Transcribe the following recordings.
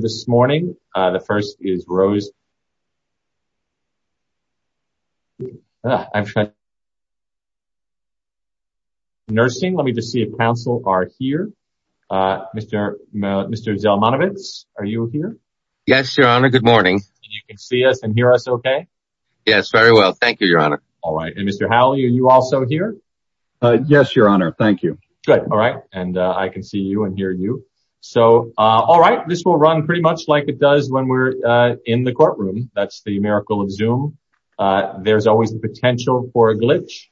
this morning. The first is Rose. Nursing, let me just see if counsel are here. Mr. Zelmanovitz, are you here? Yes, your honor. Good morning. You can see us and hear us okay? Yes, very well. Thank you, your honor. All right. And Mr. Howell, are you also here? Yes, your honor. Thank you. Good. All right. And I can see you and hear you. So all right. This will run pretty much like it does when we're in the courtroom. That's the miracle of Zoom. There's always the potential for a glitch.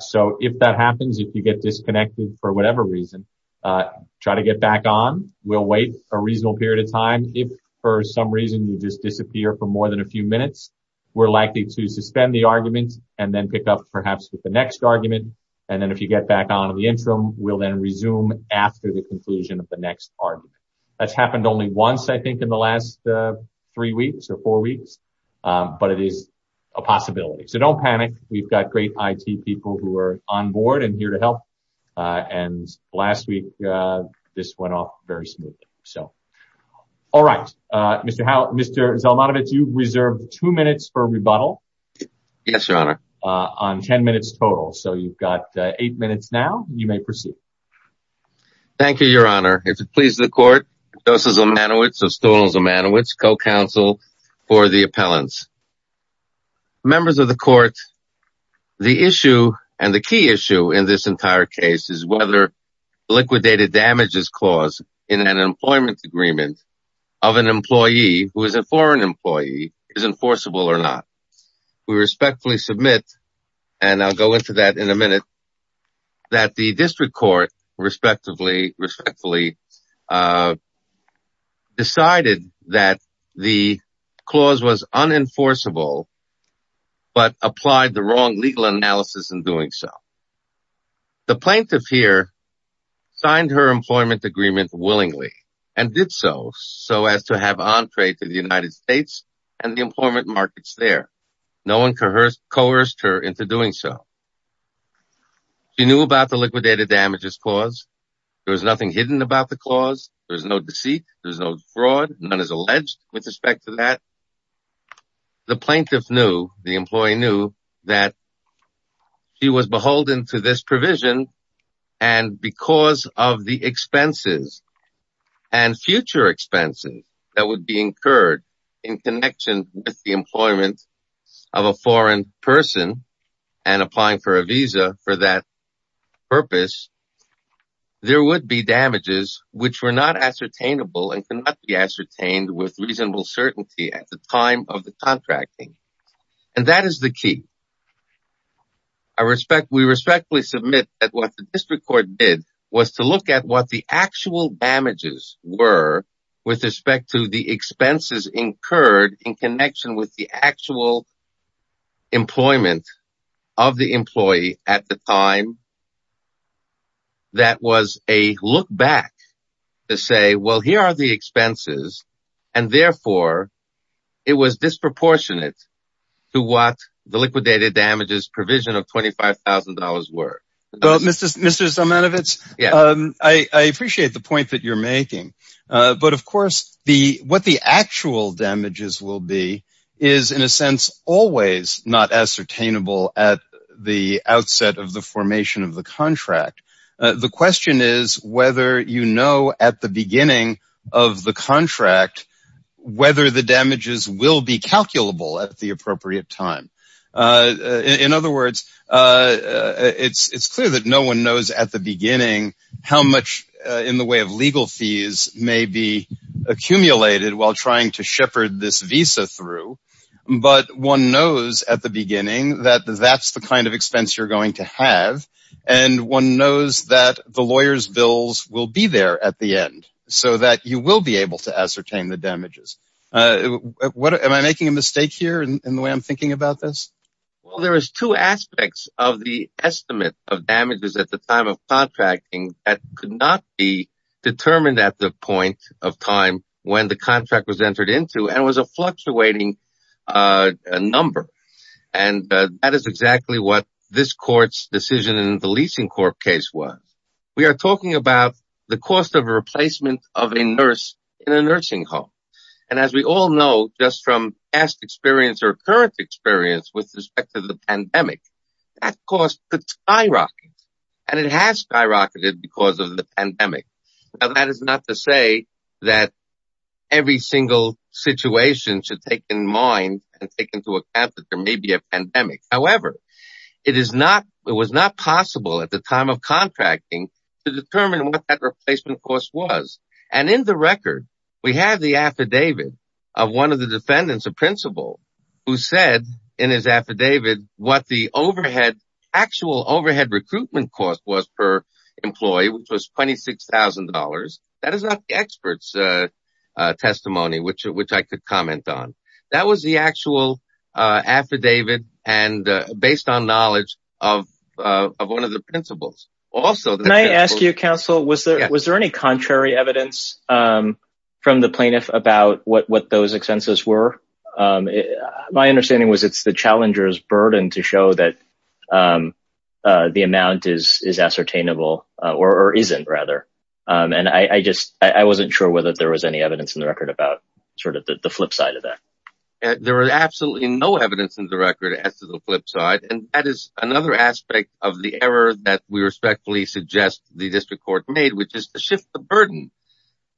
So if that happens, if you get disconnected for whatever reason, try to get back on. We'll wait a reasonable period of time. If for some reason you just disappear for more than a few minutes, we're likely to suspend the argument and then pick up perhaps with the interim. We'll then resume after the conclusion of the next argument. That's happened only once, I think, in the last three weeks or four weeks. But it is a possibility. So don't panic. We've got great IT people who are on board and here to help. And last week, this went off very smoothly. So all right. Mr. Zelmanovitz, you reserved two minutes for rebuttal. Yes, your honor. On 10 minutes total. So you've got eight minutes now. You may proceed. Thank you, your honor. If it pleases the court, Joseph Zelmanovitz of Stolon Zelmanovitz, co-counsel for the appellants. Members of the court, the issue and the key issue in this entire case is whether liquidated damages clause in an employment agreement of an employee who is a foreign employee is enforceable or not. We respectfully submit, and I'll go into that in a minute, that the district court respectively decided that the clause was unenforceable, but applied the wrong legal analysis in doing so. The plaintiff here signed her employment agreement willingly and did so so as to have entree to the United States and the employment markets there. No one coerced her into doing so. She knew about the liquidated damages clause. There was nothing hidden about the clause. There's no deceit. There's no fraud. None is alleged with respect to that. The plaintiff knew, the employee knew that she was beholden to this provision and because of the expenses and future expenses that would be incurred in connection with the employment of a foreign person and applying for a visa for that purpose, there would be damages which were not ascertainable and cannot be ascertained with reasonable certainty at the time of the contracting. That is the key. We respectfully submit that what the district court did was to look at what the actual damages were with respect to the expenses incurred in connection with the actual employment of the employee at the time. That was a look back to say, well, here are the expenses and therefore it was disproportionate to what the liquidated damages provision of $25,000 were. Mr. Zamanowicz, I appreciate the point that you're making but of course what the actual damages will be is in a sense always not ascertainable at the outset of the formation of the contract. The question is whether you know at the beginning of the contract whether the damages will be calculable at the appropriate time. In other words, it's clear that no one knows at the beginning how much in the way of legal fees may be accumulated while trying to shepherd this visa through but one knows at the beginning that that's the kind of expense you're going to have and one knows that the lawyer's bills will be there at the end so that you will be able to ascertain the damages. Am I making a mistake here in the way I'm thinking about this? There are two aspects of the estimate of damages at the time of contracting that could not be determined at the point of time when the this court's decision in the leasing court case was. We are talking about the cost of a replacement of a nurse in a nursing home and as we all know just from past experience or current experience with respect to the pandemic that cost could skyrocket and it has skyrocketed because of the pandemic. Now that is not to say that every single situation should take in mind and take into account. It was not possible at the time of contracting to determine what that replacement cost was and in the record we have the affidavit of one of the defendants of principle who said in his affidavit what the actual overhead recruitment cost was per employee which was $26,000. That is not the expert's testimony which I could comment on. That was the actual affidavit and based on knowledge of one of the principles. Can I ask you counsel was there any contrary evidence from the plaintiff about what those expenses were? My understanding was it's the challenger's burden to show that the amount is ascertainable or isn't rather and I just I wasn't sure whether there was any evidence in the record about sort of the flip side of that. There is absolutely no evidence in the record as to the flip side and that is another aspect of the error that we respectfully suggest the district court made which is to shift the burden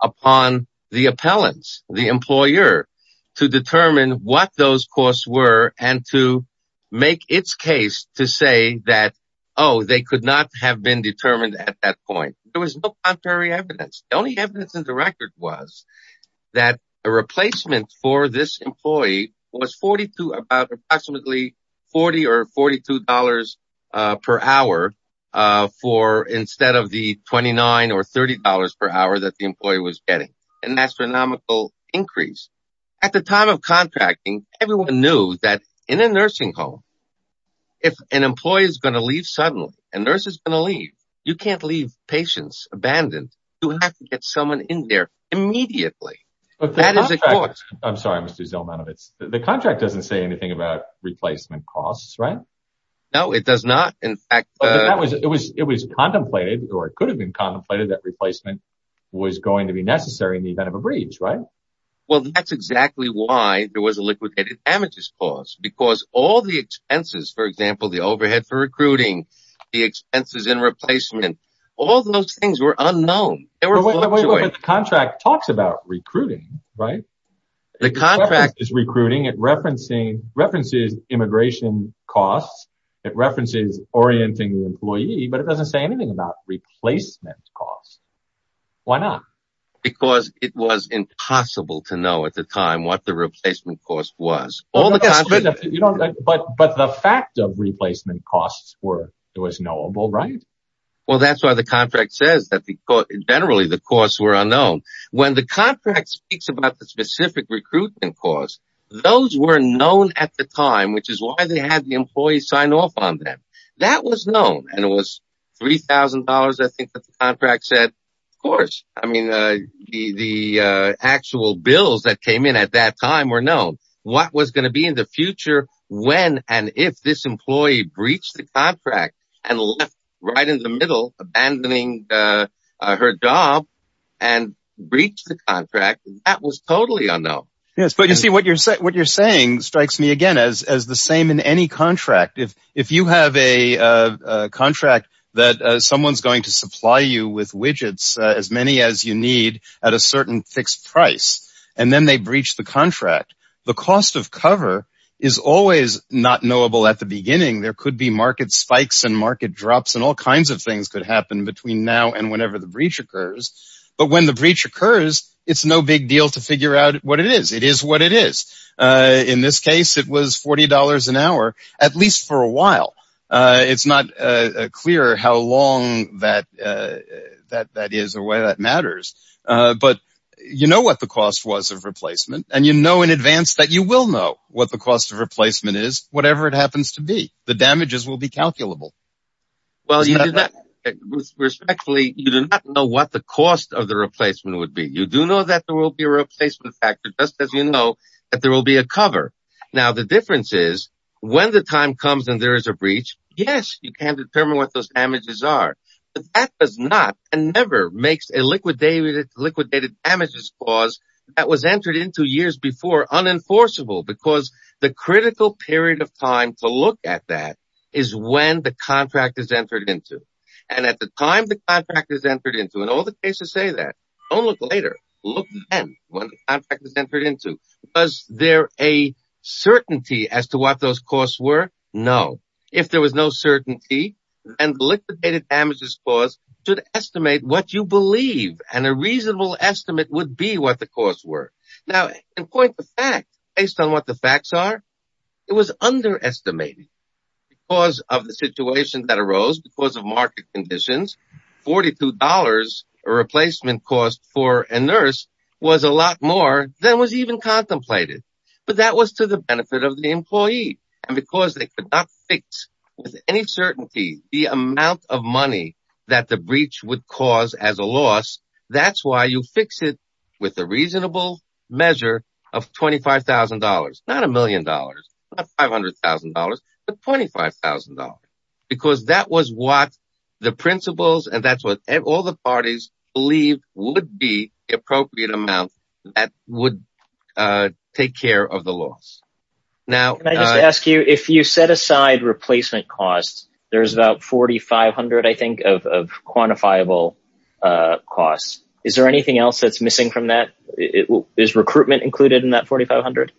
upon the appellants, the employer to determine what those costs were and to make its case to say that oh they could not have been determined at that point. There was no contrary evidence. The only was about approximately $40 or $42 per hour instead of the $29 or $30 per hour that the employee was getting an astronomical increase. At the time of contracting, everyone knew that in a nursing home if an employee is going to leave suddenly, a nurse is going to leave, you can't leave patients abandoned. You have to get someone in there immediately. The contract doesn't say anything about replacement costs, right? No, it does not. In fact, it was contemplated or it could have been contemplated that replacement was going to be necessary in the event of a breach, right? Well, that's exactly why there was a liquidated damages clause because all the expenses, for example, the overhead for recruiting, the expenses in replacement, all those things were recruiting, right? The contract is recruiting. It references immigration costs. It references orienting the employee, but it doesn't say anything about replacement costs. Why not? Because it was impossible to know at the time what the replacement cost was. But the fact of replacement costs was knowable, right? Well, that's why the contract says that generally the costs were unknown. When the contract speaks about the specific recruitment cost, those were known at the time, which is why they had the employee sign off on that. That was known and it was $3,000, I think, that the contract said. Of course, the actual bills that came in at that time were known. What was going to be in the future when and if this employee breached the contract and left right in the middle, abandoning her job and breached the contract, that was totally unknown. Yes, but you see what you're saying strikes me again as the same in any contract. If you have a contract that someone's going to supply you with widgets, as many as you need at a certain fixed price, and then they breach the contract, the cost of cover is always not knowable at the beginning. There could be market spikes and market drops and all kinds of things could happen between now and whenever the breach occurs. But when the breach occurs, it's no big deal to figure out what it is. It is what it is. In this case, it was $40 an hour, at least for a while. It's not clear how long that is or why that matters. But you know what the cost was of replacement, and you know in advance that you will know what the cost of replacement is, whatever it happens to be. The damages will be calculable. Well, respectfully, you do not know what the cost of the replacement would be. You do know that there will be a replacement factor, just as you know that there will be a cover. Now, the difference is when the time comes and there is a breach, yes, you can determine what those damages are. But that does not and never makes a liquidated damages clause that was entered into unenforceable because the critical period of time to look at that is when the contract is entered into. And at the time the contract is entered into, and all the cases say that, don't look later, look then when the contract is entered into. Was there a certainty as to what those costs were? No. If there was no certainty, then the liquidated damages clause should estimate what you believe, and a reasonable estimate would be what the costs were. Now, in point of fact, based on what the facts are, it was underestimated because of the situation that arose, because of market conditions, $42 a replacement cost for a nurse was a lot more than was even contemplated. But that was to the benefit of the employee. And because they could not fix with any certainty the amount of money that the breach would cause as a loss, that's why you fix it with a reasonable measure of $25,000, not a million dollars, not $500,000, but $25,000. Because that was what the principles and that's what all the parties believe would be appropriate amount that would take care of the loss. Can I just ask you, if you set aside replacement costs, there's about $4,500, I think, of quantifiable costs. Is there anything else that's missing from that? Is recruitment included in that $4,500?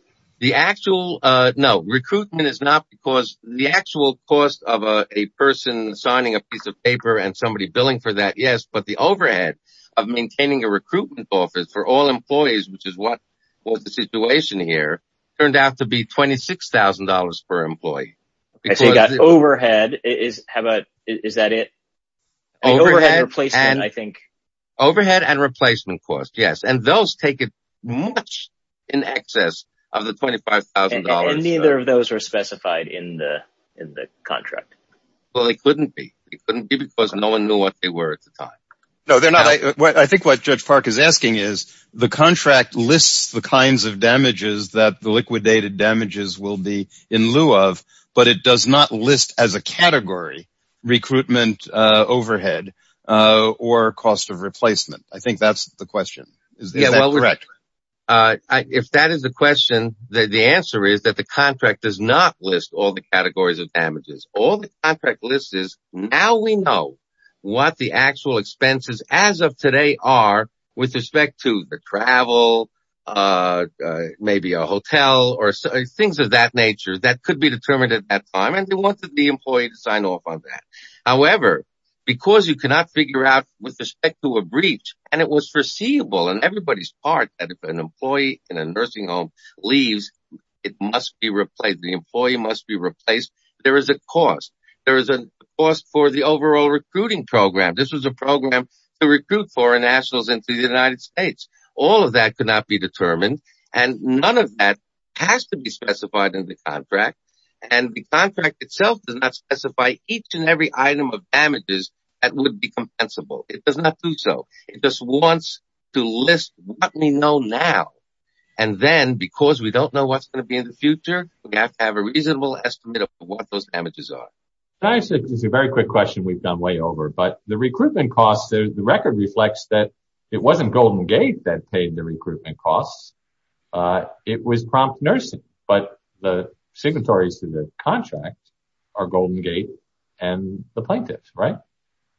No, recruitment is not because the actual cost of a person signing a piece of paper and somebody billing for that, yes, but the overhead of maintaining a recruitment office for all employees, which is what was the situation here, turned out to be $26,000 per employee. So you got overhead, is that it? Overhead and replacement costs, yes. And those take much in excess of the $25,000. And neither of those are specified in the contract. Well, they couldn't be. They couldn't be because no one knew what they were at the time. No, they're not. I think what Judge Park is asking is the contract lists the kinds of damages that the liquidated damages will be in lieu of, but it does not list as a category recruitment overhead or cost of replacement. I think that's the question. Is that correct? If that is the question, the answer is that the contract does not list all the categories of damages. All the contract lists is now we know what the actual travel cost is, maybe a hotel or things of that nature that could be determined at that time, and they wanted the employee to sign off on that. However, because you cannot figure out with respect to a breach, and it was foreseeable on everybody's part that if an employee in a nursing home leaves, it must be replaced. The employee must be replaced. There is a cost. There is a cost for the overall recruiting program. This was a program to recruit foreign employees. All of that could not be determined, and none of that has to be specified in the contract. The contract itself does not specify each and every item of damages that would be compensable. It does not do so. It just wants to list what we know now. Then, because we don't know what's going to be in the future, we have to have a reasonable estimate of what those damages are. That is a very quick question we've done way over, but the recruitment costs, the record reflects that it wasn't Golden Gate that paid the recruitment costs. It was Prompt Nursing, but the signatories to the contract are Golden Gate and the plaintiffs, right?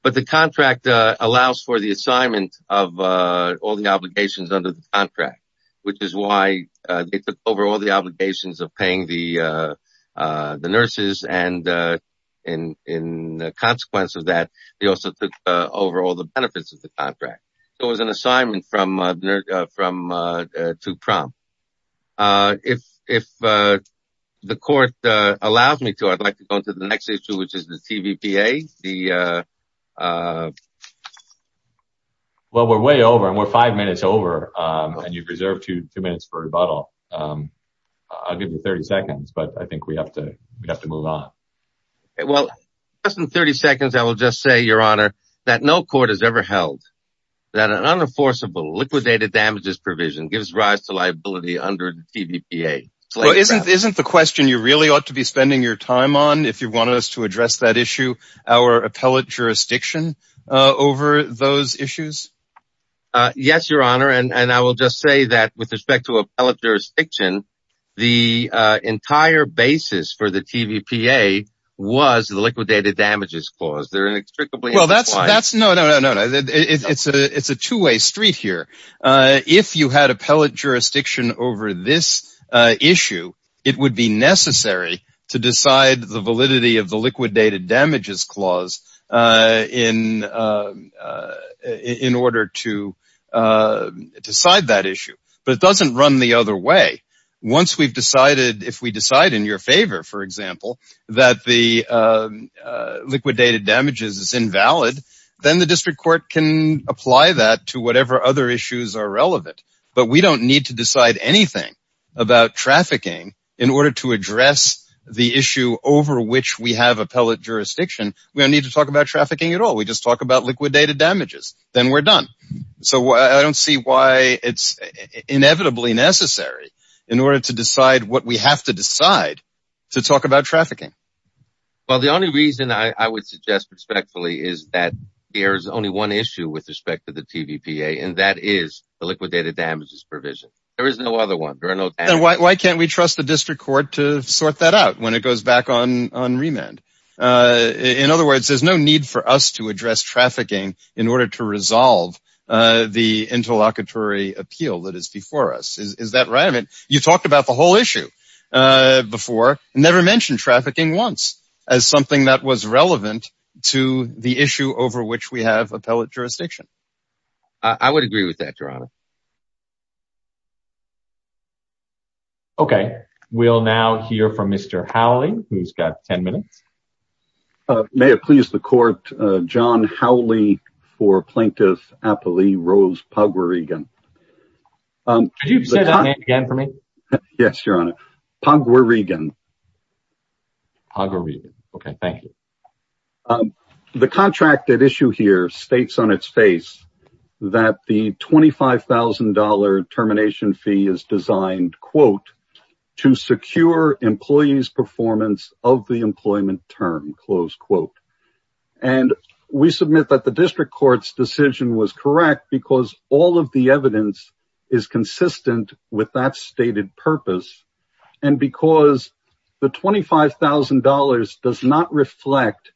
The contract allows for the assignment of all the obligations under the contract, which is why they took over all the obligations of paying the nurses. As a consequence of that, they also took over all the benefits of the contract. It was an assignment to Prompt. If the court allows me to, I'd like to go into the next issue, which is the TVPA. We're way over, and we're five minutes over, and you've reserved two minutes for rebuttal. I'll give you 30 seconds, but I think we have to move on. Well, just in 30 seconds, I will just say, Your Honor, that no court has ever held that an unenforceable liquidated damages provision gives rise to liability under the TVPA. Isn't the question you really ought to be spending your time on, if you want us to address that issue, our appellate jurisdiction over those issues? Yes, Your Honor. I will just say that with respect to appellate jurisdiction, the entire basis for the TVPA was the liquidated damages clause. No, no, no. It's a two-way street here. If you had appellate jurisdiction over this issue, it would be necessary to decide the validity of the liquidated damages clause in order to decide that issue, but it doesn't run the other way. Once we've decided, if we decide in your favor, for example, that the liquidated damages is invalid, then the district court can apply that to whatever other issues are relevant, but we don't need to decide anything about trafficking in order to address the issue over which we have appellate jurisdiction. We don't need to talk about trafficking at all. We just talk about liquidated damages. Then we're done. So I don't see why it's inevitably necessary in order to decide what we have to decide to talk about trafficking. Well, the only reason I would suggest respectfully is that there's only one issue with respect to the TVPA, and that is the liquidated damages provision. There is no other one. And why can't we trust the district court to sort that out when it goes back on remand? In other words, there's no need for us to address trafficking in order to resolve the interlocutory appeal that is before us. Is that right? I mean, you talked about the whole issue before and never mentioned trafficking once as something that was relevant to the issue over which we have appellate jurisdiction. I would agree with that, Your Honor. Okay. We'll now hear from Mr. Howley, who's got 10 minutes. May it please the court, John Howley for Plaintiff Appellee Rose Pugwaregan. Could you say that name again for me? Yes, Your Honor. Pugwaregan. Pugwaregan. Okay. Thank you. The contract at issue here states on its face that the $25,000 termination fee is designed, quote, to secure employees' performance of the employment term, close quote. And we submit that the district court's decision was correct because all of the evidence is consistent with that stated purpose. And because the $25,000 does not reflect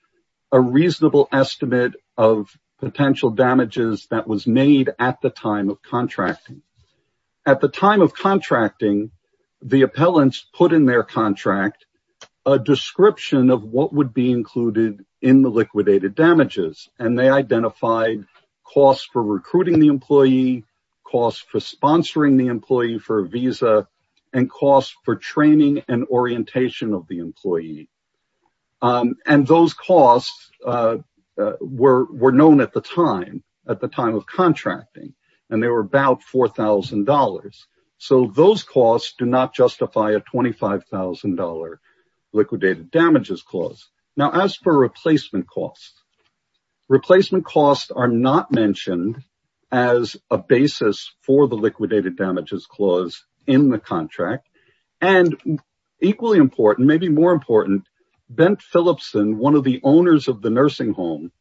a reasonable estimate of potential damages that was made at the time of contracting. At the time of contracting, the appellants put in their contract a description of what would be included in the liquidated damages. And they identified costs for recruiting the employee, costs for sponsoring the employee for a visa, and costs for training and orientation of the employee. And those costs were known at the time, at the time of contracting. And they were about $4,000. So those costs do not justify a $25,000 liquidated damages clause. Now, as for replacement costs, replacement costs are not mentioned as a basis for the liquidated damages clause in the contract. And equally important, maybe more important, Ben Philipson, one of the owners of the nursing home,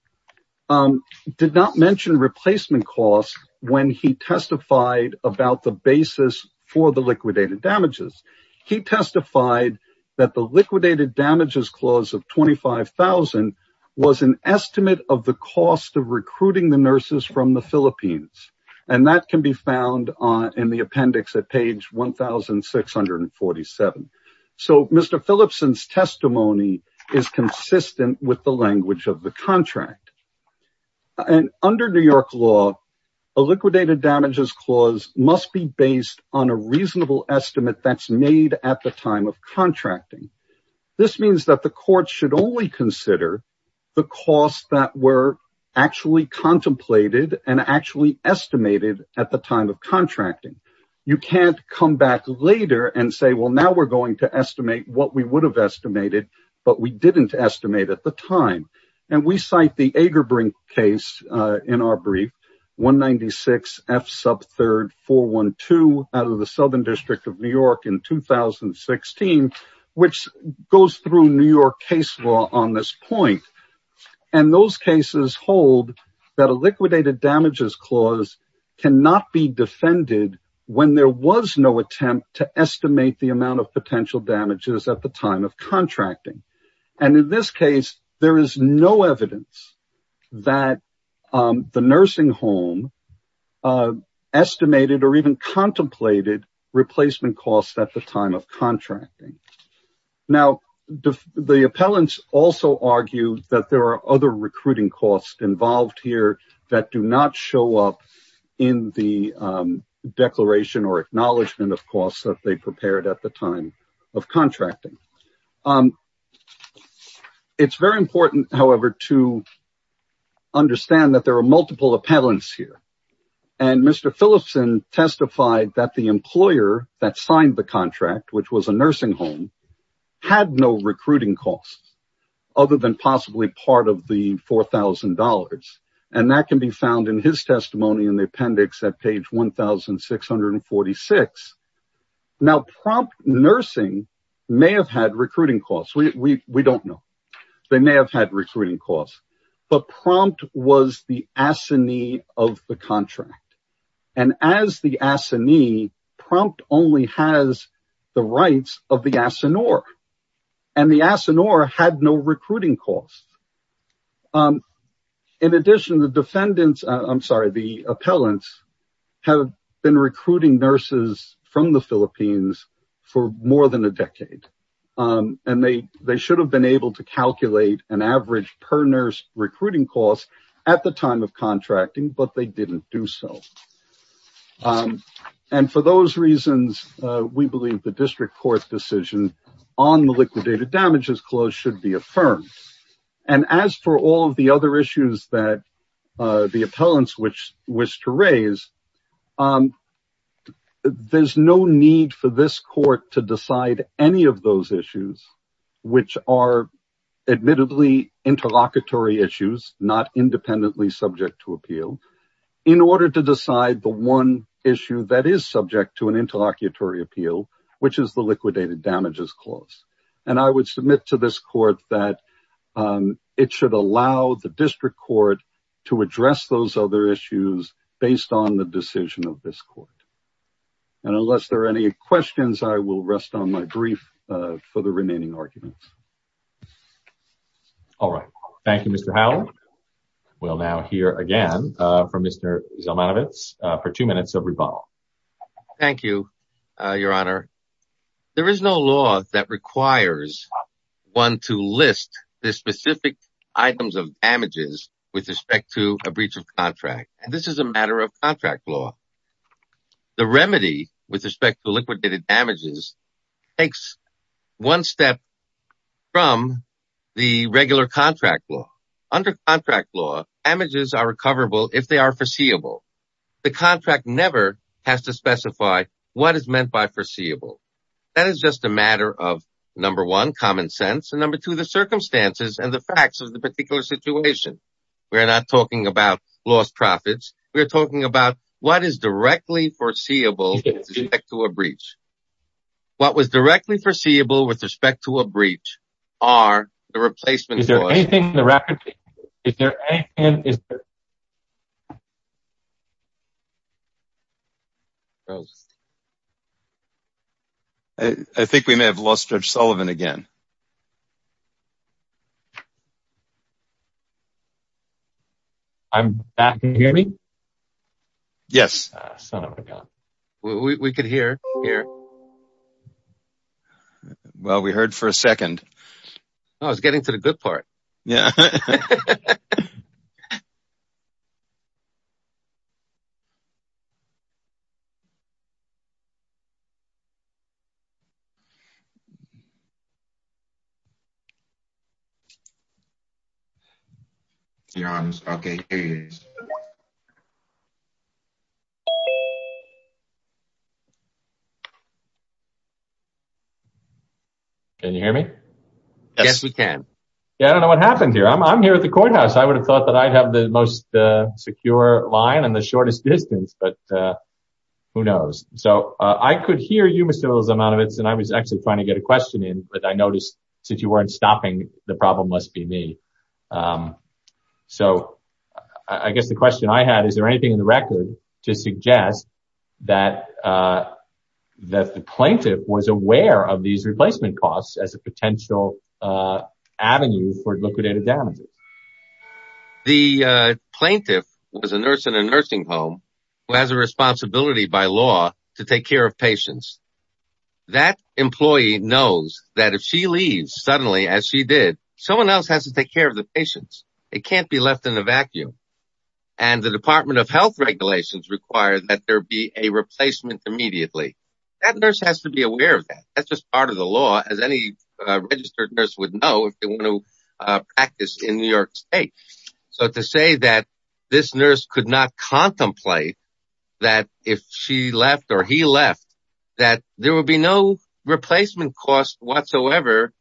did not mention replacement costs when he testified about the basis for the liquidated damages. He testified that the liquidated damages clause of $25,000 was an estimate of the cost of $247,000. So Mr. Philipson's testimony is consistent with the language of the contract. And under New York law, a liquidated damages clause must be based on a reasonable estimate that's made at the time of contracting. This means that the court should only consider the costs that were actually contemplated and actually estimated at the time of contracting. You can't come back later and say, well, now we're going to estimate what we would have estimated, but we didn't estimate at the time. And we cite the Agerbrink case in our brief, 196 F sub 3rd 412 out of the Southern District of New York in 2016, which goes through New York case law on this point. And those cases hold that a liquidated damages clause cannot be defended when there was no attempt to estimate the amount of potential damages at the time of contracting. And in this case, there is no evidence that the nursing home estimated or even contemplated replacement costs at the time of contracting. Now the appellants also argued that there are other recruiting costs involved here that do not show up in the declaration or acknowledgement of costs that they prepared at the time of contracting. It's very important, however, to sign the contract, which was a nursing home had no recruiting costs other than possibly part of the $4,000. And that can be found in his testimony in the appendix at page 1,646. Now prompt nursing may have had recruiting costs. We don't know. They may have had recruiting costs, but prompt was the assignee of the contract. And as the assignee prompt only has the rights of the assignore and the assignore had no recruiting costs. In addition to the defendants, I'm sorry, the appellants have been recruiting nurses from the Philippines for more than a recruiting cost at the time of contracting, but they didn't do so. And for those reasons, we believe the district court's decision on the liquidated damages clause should be affirmed. And as for all of the other issues that the appellants wish to raise, there's no need for this court to decide any of those issues, which are admittedly interlocutory issues, not independently subject to appeal in order to decide the one issue that is subject to an interlocutory appeal, which is the liquidated damages clause. And I would submit to this court that it should allow the district court to address those other issues based on the decision of this court. And unless there are any questions, I will rest on my brief for the remaining arguments. All right. Thank you, Mr. Howell. We'll now hear again from Mr. Zalmanovitz for two minutes of rebuttal. Thank you, Your Honor. There is no law that requires one to list the specific items of damages with respect to a breach of contract. And this is a matter of contract law. The remedy with respect to liquidated damages takes one step from the regular contract law. Under contract law, damages are recoverable if they are foreseeable. The contract never has to specify what is meant by foreseeable. That is just a matter of, number one, common sense, and number two, the circumstances and the facts of the particular situation. We're not talking about lost profits. We're talking about what is directly foreseeable to a breach. What was directly foreseeable with respect to a breach are the replacement. Is there anything in the record? I think we may have lost Judge Sullivan again. I'm back. Can you hear me? Yes. Son of a gun. We could hear. Well, we heard for a second. I was getting to the good part. Your Honor, okay. Can you hear me? Yes, we can. Yeah, I don't know what happened here. I'm here at the courthouse. I would have thought that I'd have the most secure line and the shortest distance, but who knows? So, I could hear you, Mr. Lozanovitz, and I was actually trying to get a question in, but I noticed since you weren't stopping, the problem must be me. So, I guess the question I had, is there anything in the record to suggest that the plaintiff was aware of these replacement costs as a potential avenue for liquidated damages? The plaintiff was a nurse in a nursing home who has a responsibility by law to take care of patients. That employee knows that if she leaves suddenly, as she did, someone else has to take care of the patients. They can't be left in a vacuum, and the Department of Health regulations require that there be a replacement immediately. That nurse has to be aware of that. That's just part of the law, as any registered nurse would know if they want to practice in New York State. So, to say that this nurse could not contemplate that if she left or he left, that there would be no replacement cost whatsoever,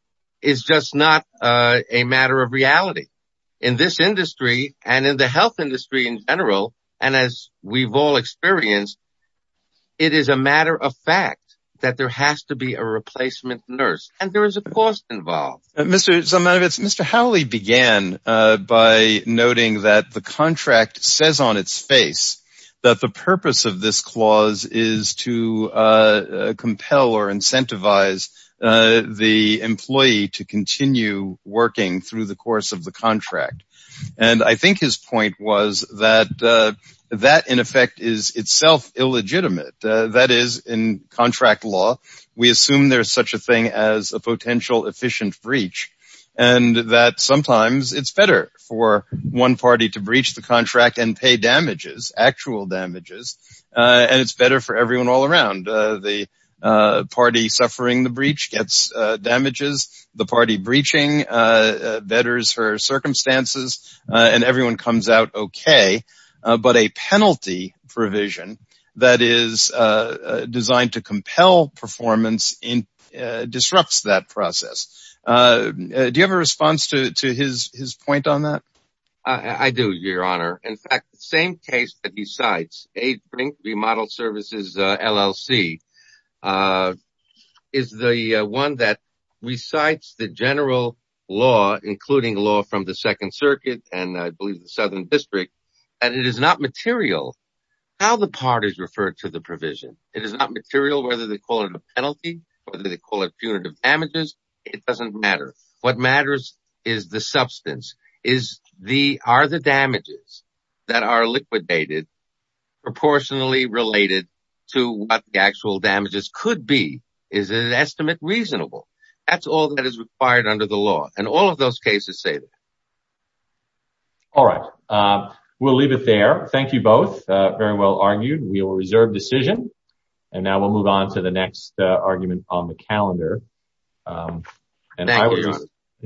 is just not a matter of reality. In this industry, and in the health industry in general, and as we've all experienced, it is a matter of fact that there has to be a replacement nurse, and there is a cost involved. Mr. Zalmanovitz, Mr. Howley began by noting that the contract says on its face that the purpose of this clause is to compel or incentivize the employee to continue working through the course of the contract, and I think his point was that that, in effect, is itself illegitimate. That is, in contract law, we assume there's such a thing as a potential efficient breach, and that sometimes it's better for one party to breach the contract and pay damages, actual damages, and it's better for everyone all around. The party suffering the breach gets damages, the party breaching betters her circumstances, and everyone comes out okay, but a penalty provision that is designed to compel performance disrupts that process. Do you have a response to his point on that? I do, your honor. In fact, the same case that he cites, AIDS Remodel Services LLC, is the one that recites the general law, including law from the Second Circuit and I believe the Southern District, that it is not material how the party is referred to the provision. It is not material whether they call it a penalty, whether they call it punitive damages. It doesn't matter. What matters is the substance. Are the damages that are liquidated proportionally related to what the actual damages could be? Is an estimate reasonable? That's all that is required under the law, and all of those cases say that. All right. We'll leave it there. Thank you both. Very well argued. We will reserve decision, and now we'll move on to the next argument on the calendar. Thank you, your honor.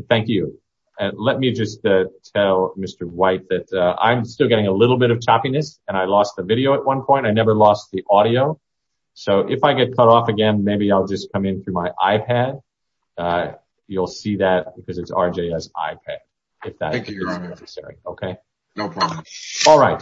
Thank you. Let me just tell Mr. White that I'm still getting a little bit of choppiness, and I lost the video at one point. I never lost the audio, so if I get cut off again, maybe I'll just come in through my uh you'll see that because it's RJ's iPad. Thank you, your honor. Okay, no problem. All right.